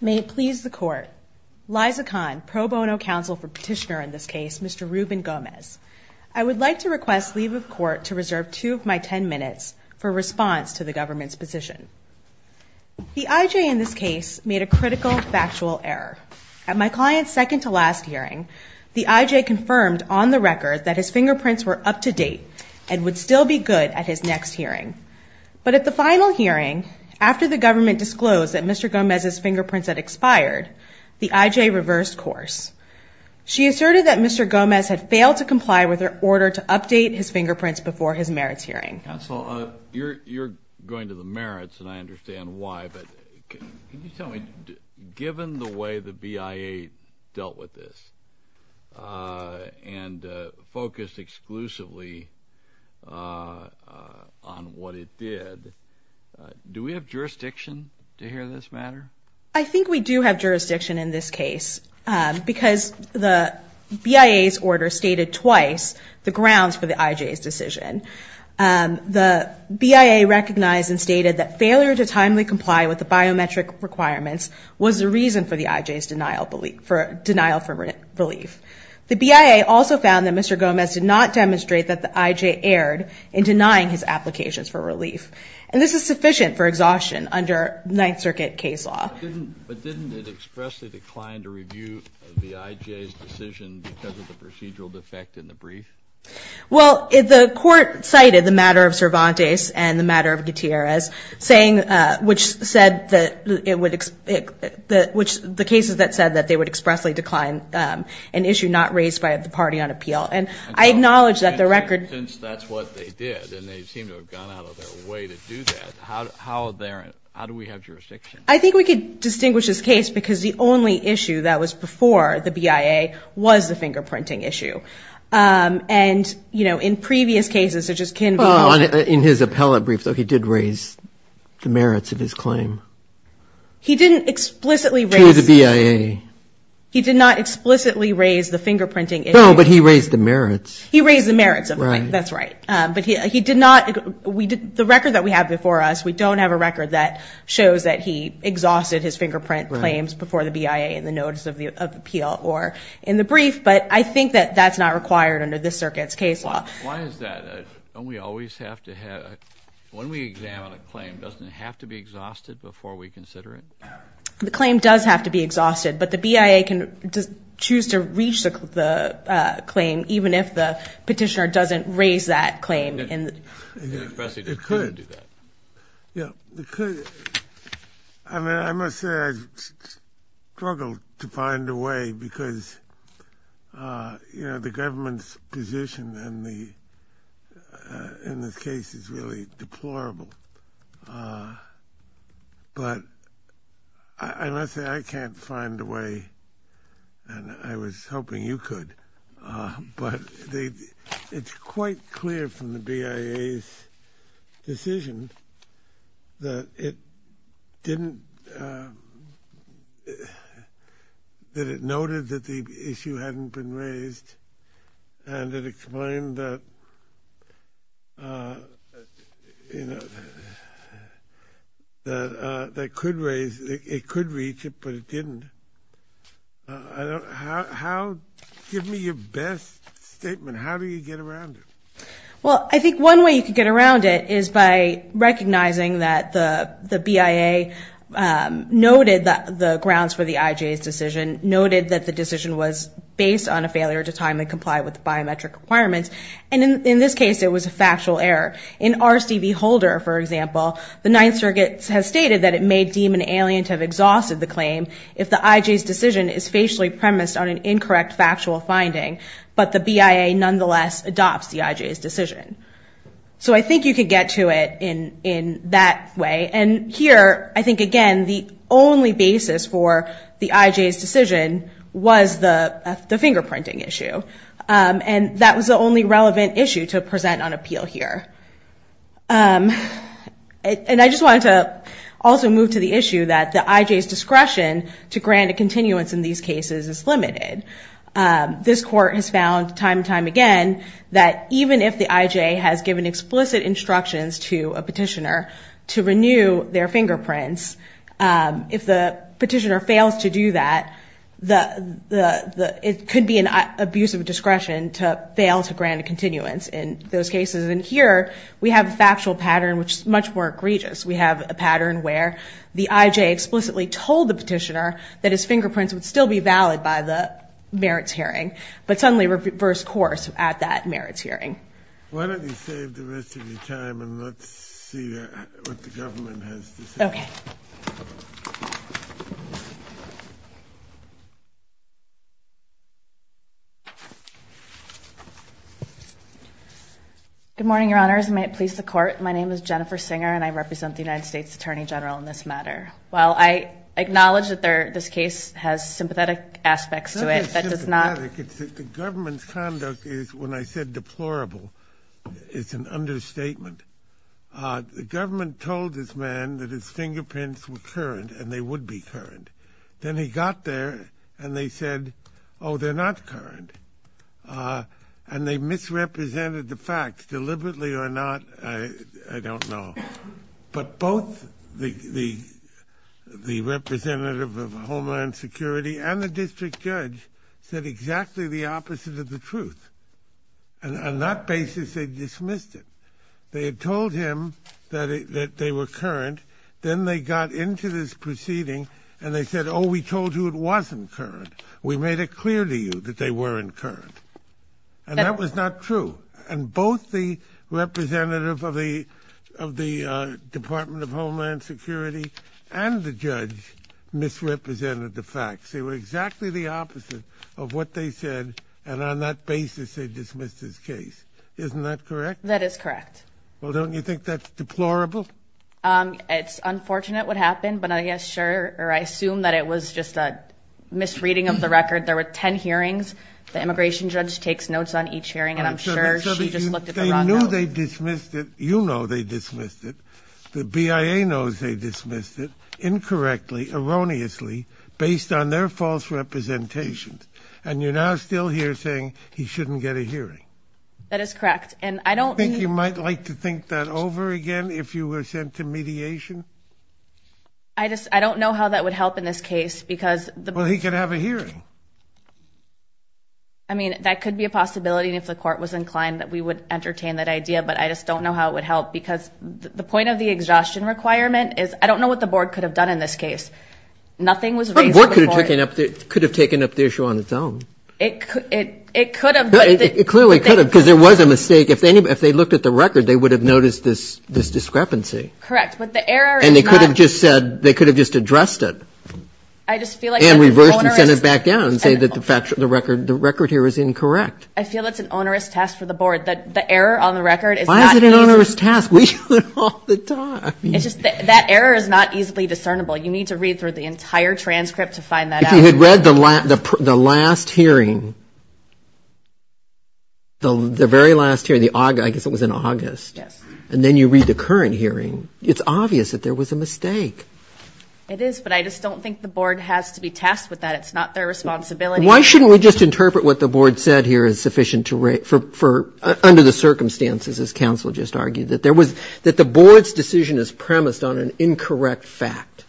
May it please the court. Liza Khan, pro bono counsel for petitioner in this case, Mr. Ruben Gomez. I would like to request leave of court to reserve two of my ten minutes for response to the government's position. The I.J. in this case made a critical factual error. At my client's second to last hearing, the I.J. confirmed on the record that his fingerprints were up to date and would still be good at his next hearing. But at the final hearing, after the government disclosed that Mr. Gomez's fingerprints had expired, the I.J. reversed course. She asserted that Mr. Gomez had failed to comply with her order to update his fingerprints before his merits hearing. Counsel, you're going to the merits, and I understand why, but can you tell me, given the way the B.I.A. dealt with this and focused exclusively on what it did, do we have jurisdiction to hear this matter? I think we do have jurisdiction in this case because the B.I.A.'s order stated twice the grounds for the I.J.'s decision. The B.I.A. recognized and stated that failure to timely comply with the biometric requirements was the reason for the I.J.'s denial for relief. The B.I.A. also found that Mr. Gomez did not demonstrate that the I.J. erred in denying his applications for relief. And this is sufficient for exhaustion under Ninth Circuit case law. But didn't it expressly decline to review the I.J.'s decision because of the procedural defect in the brief? Well, the court cited the matter of Cervantes and the matter of Gutierrez, which said that it would, the cases that said that they would expressly decline an issue not raised by the party on appeal. And I acknowledge that the record... Since that's what they did, and they seem to have gone out of their way to do that, how do we have jurisdiction? I think we could distinguish this case because the only issue that was before the B.I.A. was the fingerprinting issue. And, you know, in previous cases, such as Kinvey... In his appellate brief, though, he did raise the merits of his claim. He didn't explicitly raise... To the B.I.A. He did not explicitly raise the fingerprinting issue. No, but he raised the merits. He raised the merits of it. That's right. But he did not... The record that we have before us, we don't have a record that shows that he exhausted his fingerprint claims before the B.I.A. in the notice of appeal or in the brief, but I think that that's not required under this circuit's case law. Why is that? Don't we always have to have... When we examine a claim, doesn't it have to be exhausted before we consider it? The claim does have to be exhausted, but the B.I.A. can choose to reach the claim, even if the petitioner doesn't raise that claim. It could. Yeah, it could. I mean, I must say I struggle to find a way because, you know, the government's position in this case is really deplorable, but I must say I can't find a way, and I was that it didn't... That it noted that the issue hadn't been raised, and it explained that that could raise... It could reach it, but it didn't. I don't... How... Give me your best statement. How do you get around it? Well, I think one way you can get around it is by recognizing that the B.I.A. noted the grounds for the I.J.'s decision, noted that the decision was based on a failure to timely comply with the biometric requirements, and in this case, it was a factual error. In R.C.B. Holder, for example, the Ninth Circuit has stated that it may deem an alien to have exhausted the claim if the I.J.'s decision is facially premised on an incorrect factual finding, but the B.I.A. nonetheless adopts the I.J.'s decision. So I think you can get to it in that way, and here, I think, again, the only basis for the I.J.'s decision was the fingerprinting issue, and that was the only relevant issue to present on appeal here. And I just wanted to also move to the issue that the I.J.'s discretion to grant a continuance in these cases is limited. This Court has found time and time again that even if the I.J. has given explicit instructions to a petitioner to renew their fingerprints, if the petitioner fails to do that, it could be an abuse of discretion to fail to grant a continuance in those cases, and here, we have a factual pattern which is much more egregious. We have a pattern where the I.J. explicitly told the petitioner that his fingerprints would still be valid by the merits hearing, but suddenly reversed course at that merits hearing. Why don't you save the rest of your time, and let's see what the government has to say. Okay. Good morning, Your Honors, and may it please the Court. My name is Jennifer Singer, and I represent the United States Attorney General in this matter. While I acknowledge that this case has sympathetic aspects to it, that does not It's not just sympathetic. The government's conduct is, when I said deplorable, it's an understatement. The government told this man that his fingerprints were current, and they would be current. Then he got there, and they said, oh, they're not current. And they misrepresented the facts. Deliberately or not, I don't know. But both the representative of Homeland Security and the district judge said exactly the opposite of the truth. And on that basis, they dismissed it. They had told him that they were current. Then they got into this proceeding, and they said, oh, we told you it wasn't current. We made it clear to you that they weren't current. And that was not true. And both the representative of the Department of Homeland Security and the judge misrepresented the facts. They were exactly the opposite of what they said, and on that basis, they dismissed his case. Isn't that correct? That is correct. Well, don't you think that's deplorable? It's unfortunate what happened, but I assume that it was just a misreading of the record. There were 10 hearings. The immigration judge takes notes on each hearing, and I'm sure she just looked at the wrong notes. So they knew they dismissed it. You know they dismissed it. The BIA knows they dismissed it incorrectly, erroneously, based on their false representations. And you're now still here saying he shouldn't get a hearing. That is correct. Do you think you might like to think that over again if you were sent to mediation? Well, he could have a hearing. I mean, that could be a possibility, and if the court was inclined, that we would entertain that idea. But I just don't know how it would help, because the point of the exhaustion requirement is, I don't know what the board could have done in this case. Nothing was raised before. But the board could have taken up the issue on its own. It could have. It clearly could have, because there was a mistake. If they looked at the record, they would have noticed this discrepancy. Correct. But the error is not... And they could have just said, they could have just addressed it. I just feel like that's an onerous... And reversed it and sent it back down and said that the record here is incorrect. I feel it's an onerous task for the board. The error on the record is not... Why is it an onerous task? We do it all the time. That error is not easily discernible. You need to read through the entire transcript to find that out. If he had read the last hearing, the very last hearing, I guess it was in August, and then you read the current hearing, it's obvious that there was a mistake. It is, but I just don't think the board has to be tasked with that. It's not their responsibility. Why shouldn't we just interpret what the board said here as sufficient to... Under the circumstances, as counsel just argued, that the board's decision is premised on an incorrect fact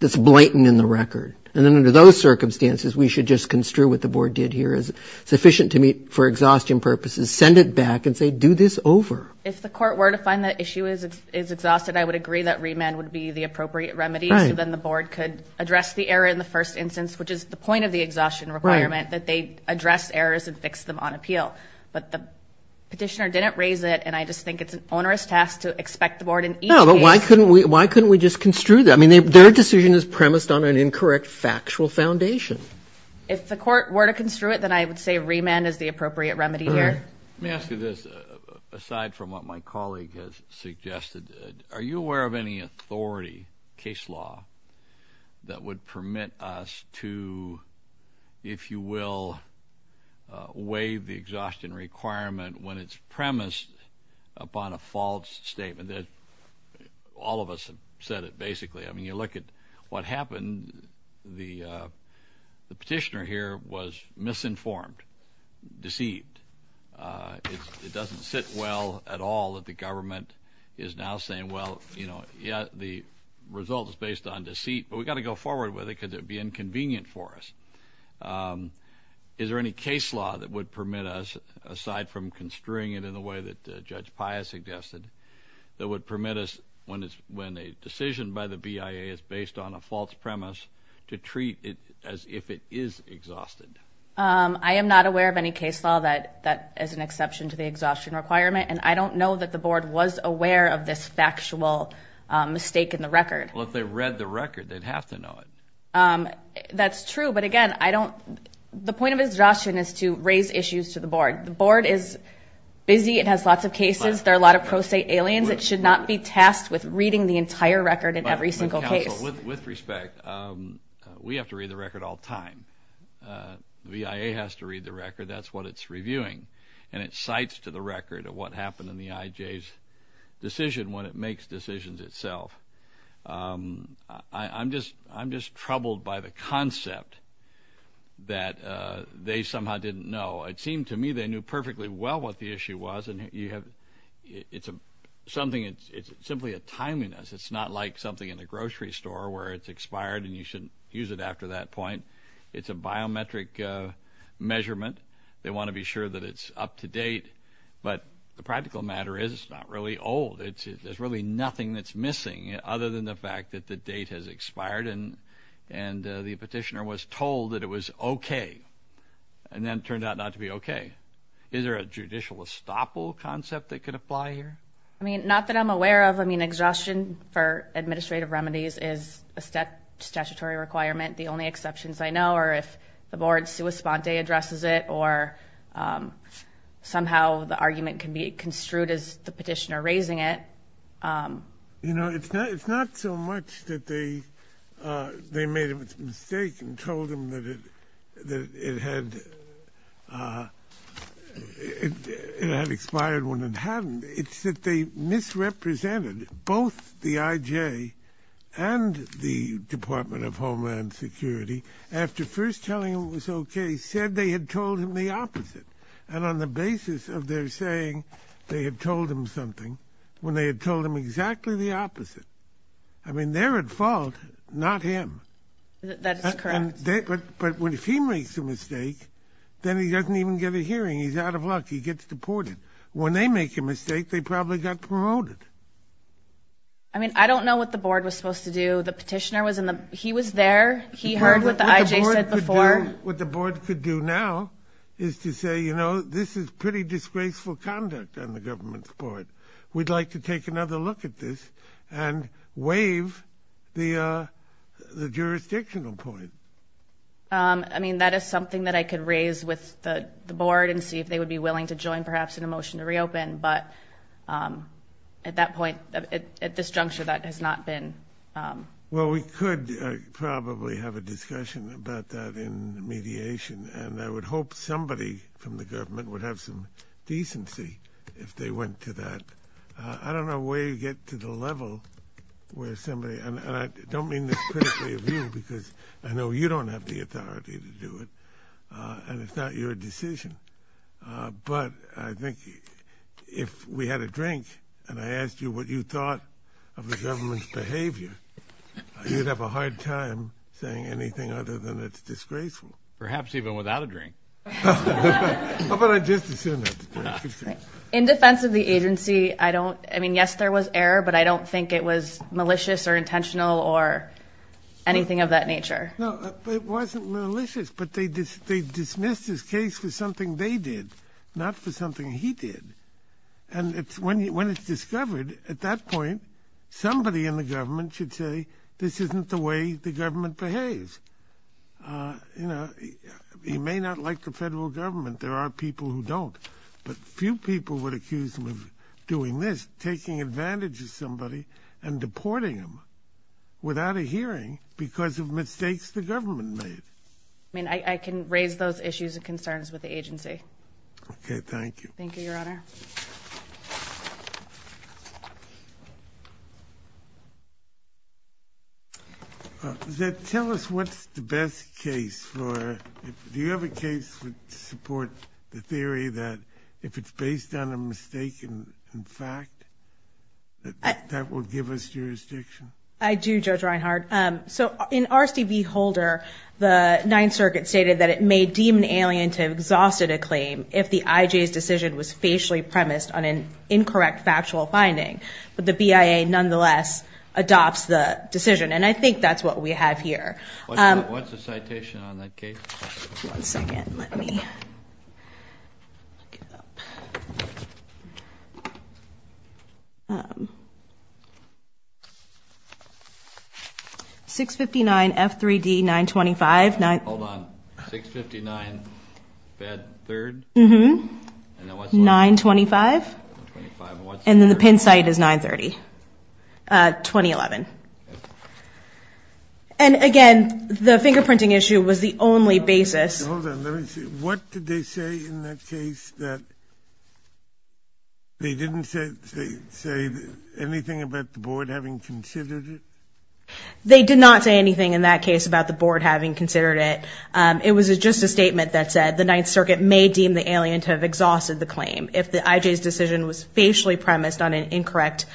that's blatant in the record. And then under those circumstances, we should just construe what the board did here as sufficient to meet, for exhaustion purposes, send it back and say, do this over. If the court were to find that issue is exhausted, I would agree that remand would be the appropriate remedy so then the board could address the error in the first instance, which is the point of the exhaustion requirement, that they address errors and fix them on appeal. But the petitioner didn't raise it, and I just think it's an onerous task to expect the board in each case... No, but why couldn't we just construe that? I mean, their decision is premised on an incorrect factual foundation. If the court were to construe it, then I would say remand is the appropriate remedy here. Let me ask you this, aside from what my colleague has suggested. Are you aware of any authority, case law, that would permit us to, if you will, waive the exhaustion requirement when it's premised upon a false statement that... All of us have said it, basically. I mean, you look at what happened, the petitioner here was misinformed, deceived. It doesn't sit well at all that the government is now saying, well, you know, yeah, the result is based on deceit, but we've got to go forward with it because it would be inconvenient for us. Is there any case law that would permit us, aside from construing it in the way that Judge BIA is based on a false premise, to treat it as if it is exhausted? I am not aware of any case law that is an exception to the exhaustion requirement, and I don't know that the board was aware of this factual mistake in the record. Well, if they read the record, they'd have to know it. That's true, but again, the point of exhaustion is to raise issues to the board. The board is busy, it has lots of cases, there are a lot of pro se aliens, it should not be tasked with reading the entire record in every single case. With respect, we have to read the record all the time, the BIA has to read the record, that's what it's reviewing, and it cites to the record what happened in the IJ's decision when it makes decisions itself. I'm just troubled by the concept that they somehow didn't know. It seemed to me they knew perfectly well what the issue was, and it's simply a timeliness, it's not like something in a grocery store where it's expired and you shouldn't use it after that point. It's a biometric measurement, they want to be sure that it's up to date, but the practical matter is it's not really old, there's really nothing that's missing other than the fact that the date has expired, and the petitioner was told that it was okay, and then it turned out not to be okay. Is there a judicial estoppel concept that can apply here? Not that I'm aware of, I mean exhaustion for administrative remedies is a statutory requirement, the only exceptions I know are if the board sui sponte addresses it, or somehow the argument can be construed as the petitioner raising it. You know, it's not so much that they made a mistake and told him that it had expired when it hadn't, it's that they misrepresented both the IJ and the Department of Homeland Security after first telling him it was okay, said they had told him the opposite, and on the basis of their saying they had told him something, when they had told him exactly the opposite. I mean, they're at fault, not him. That's correct. But if he makes a mistake, then he doesn't even get a hearing, he's out of luck, he gets deported. When they make a mistake, they probably got promoted. I mean, I don't know what the board was supposed to do, the petitioner was in the, he was there, he heard what the IJ said before. What the board could do now is to say, you know, this is pretty disgraceful conduct on the government's part. We'd like to take another look at this and waive the jurisdictional point. I mean, that is something that I could raise with the board and see if they would be willing to join, perhaps, in a motion to reopen, but at that point, at this juncture, that has not been... Well, we could probably have a discussion about that in mediation, and I would hope somebody from the government would have some decency if they went to that. I don't know where you get to the level where somebody, and I don't mean this critically of you, because I know you don't have the authority to do it, and it's not your decision, but I think if we had a drink and I asked you what you thought of the government's behavior, you'd have a hard time saying anything other than it's disgraceful. Perhaps even without a drink. How about I just assume that? In defense of the agency, I don't, I mean, yes, there was error, but I don't think it was malicious or intentional or anything of that nature. No, it wasn't malicious, but they dismissed his case for something they did, not for something he did. And when it's discovered, at that point, somebody in the government should say, this isn't the way the government behaves. He may not like the federal government, there are people who don't, but few people would accuse him of doing this, taking advantage of somebody and deporting them without a hearing because of mistakes the government made. I mean, I can raise those issues and concerns with the agency. Okay, thank you. Thank you, Your Honor. Tell us what's the best case for, do you have a case that supports the theory that if it's based on a mistake in fact, that will give us jurisdiction? I do, Judge Reinhart. So in R.C.V. Holder, the Ninth Circuit stated that it may deem an alien to have exhausted a claim if the I.J.'s decision was facially premised on an incorrect factual finding, but the BIA nonetheless adopts the decision. And I think that's what we have here. What's the citation on that case? One second, let me look it up. 659 F3D 925, 925, and then the pin site is 930, 2011. And again, the fingerprinting issue was the only basis. Hold on, let me see. What did they say in that case that they didn't say anything about the board having considered it? They did not say anything in that case about the board having considered it. It was just a statement that said the Ninth Circuit may deem the alien to have exhausted the claim if the I.J.'s decision was facially premised on an incorrect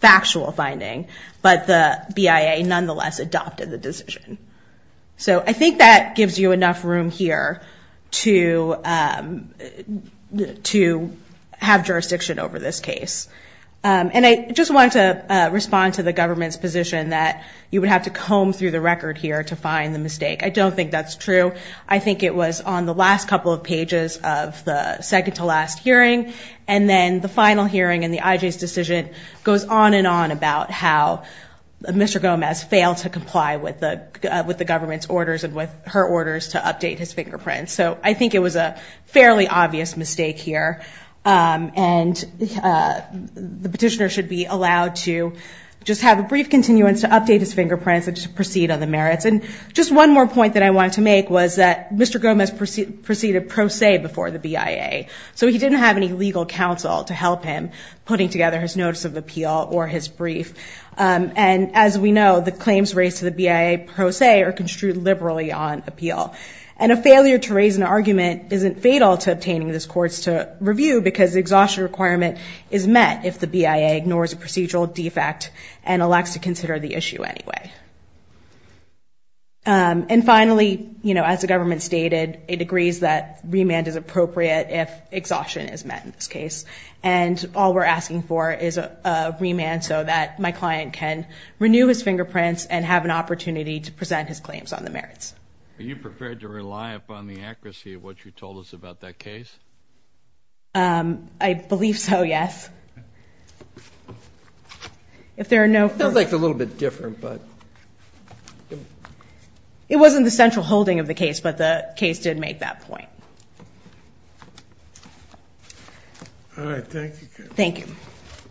factual finding, but the BIA nonetheless adopted the decision. So I think that gives you enough room here to have jurisdiction over this case. And I just wanted to respond to the government's position that you would have to comb through the record here to find the mistake. I don't think that's true. I think it was on the last couple of pages of the second to last hearing, and then the final hearing and the I.J.'s decision goes on and on about how Mr. Gomez failed to comply with the government's orders and with her orders to update his fingerprints. So I think it was a fairly obvious mistake here, and the petitioner should be allowed to just have a brief continuance to update his fingerprints and just proceed on the merits. And just one more point that I wanted to make was that Mr. Gomez proceeded pro se before the BIA. So he didn't have any legal counsel to help him putting together his notice of appeal or his brief. And as we know, the claims raised to the BIA pro se are construed liberally on appeal. And a failure to raise an argument isn't fatal to obtaining this court's review because the exhaustion requirement is met if the BIA ignores a procedural defect and elects to consider the issue anyway. And finally, as the government stated, it agrees that remand is appropriate if exhaustion is met in this case. And all we're asking for is a remand so that my client can renew his fingerprints and have an opportunity to present his claims on the merits. Are you prepared to rely upon the accuracy of what you told us about that case? I believe so, yes. If there are no further... It feels like it's a little bit different, but... It wasn't the central holding of the case, but the case did make that point. All right, thank you. Thank you.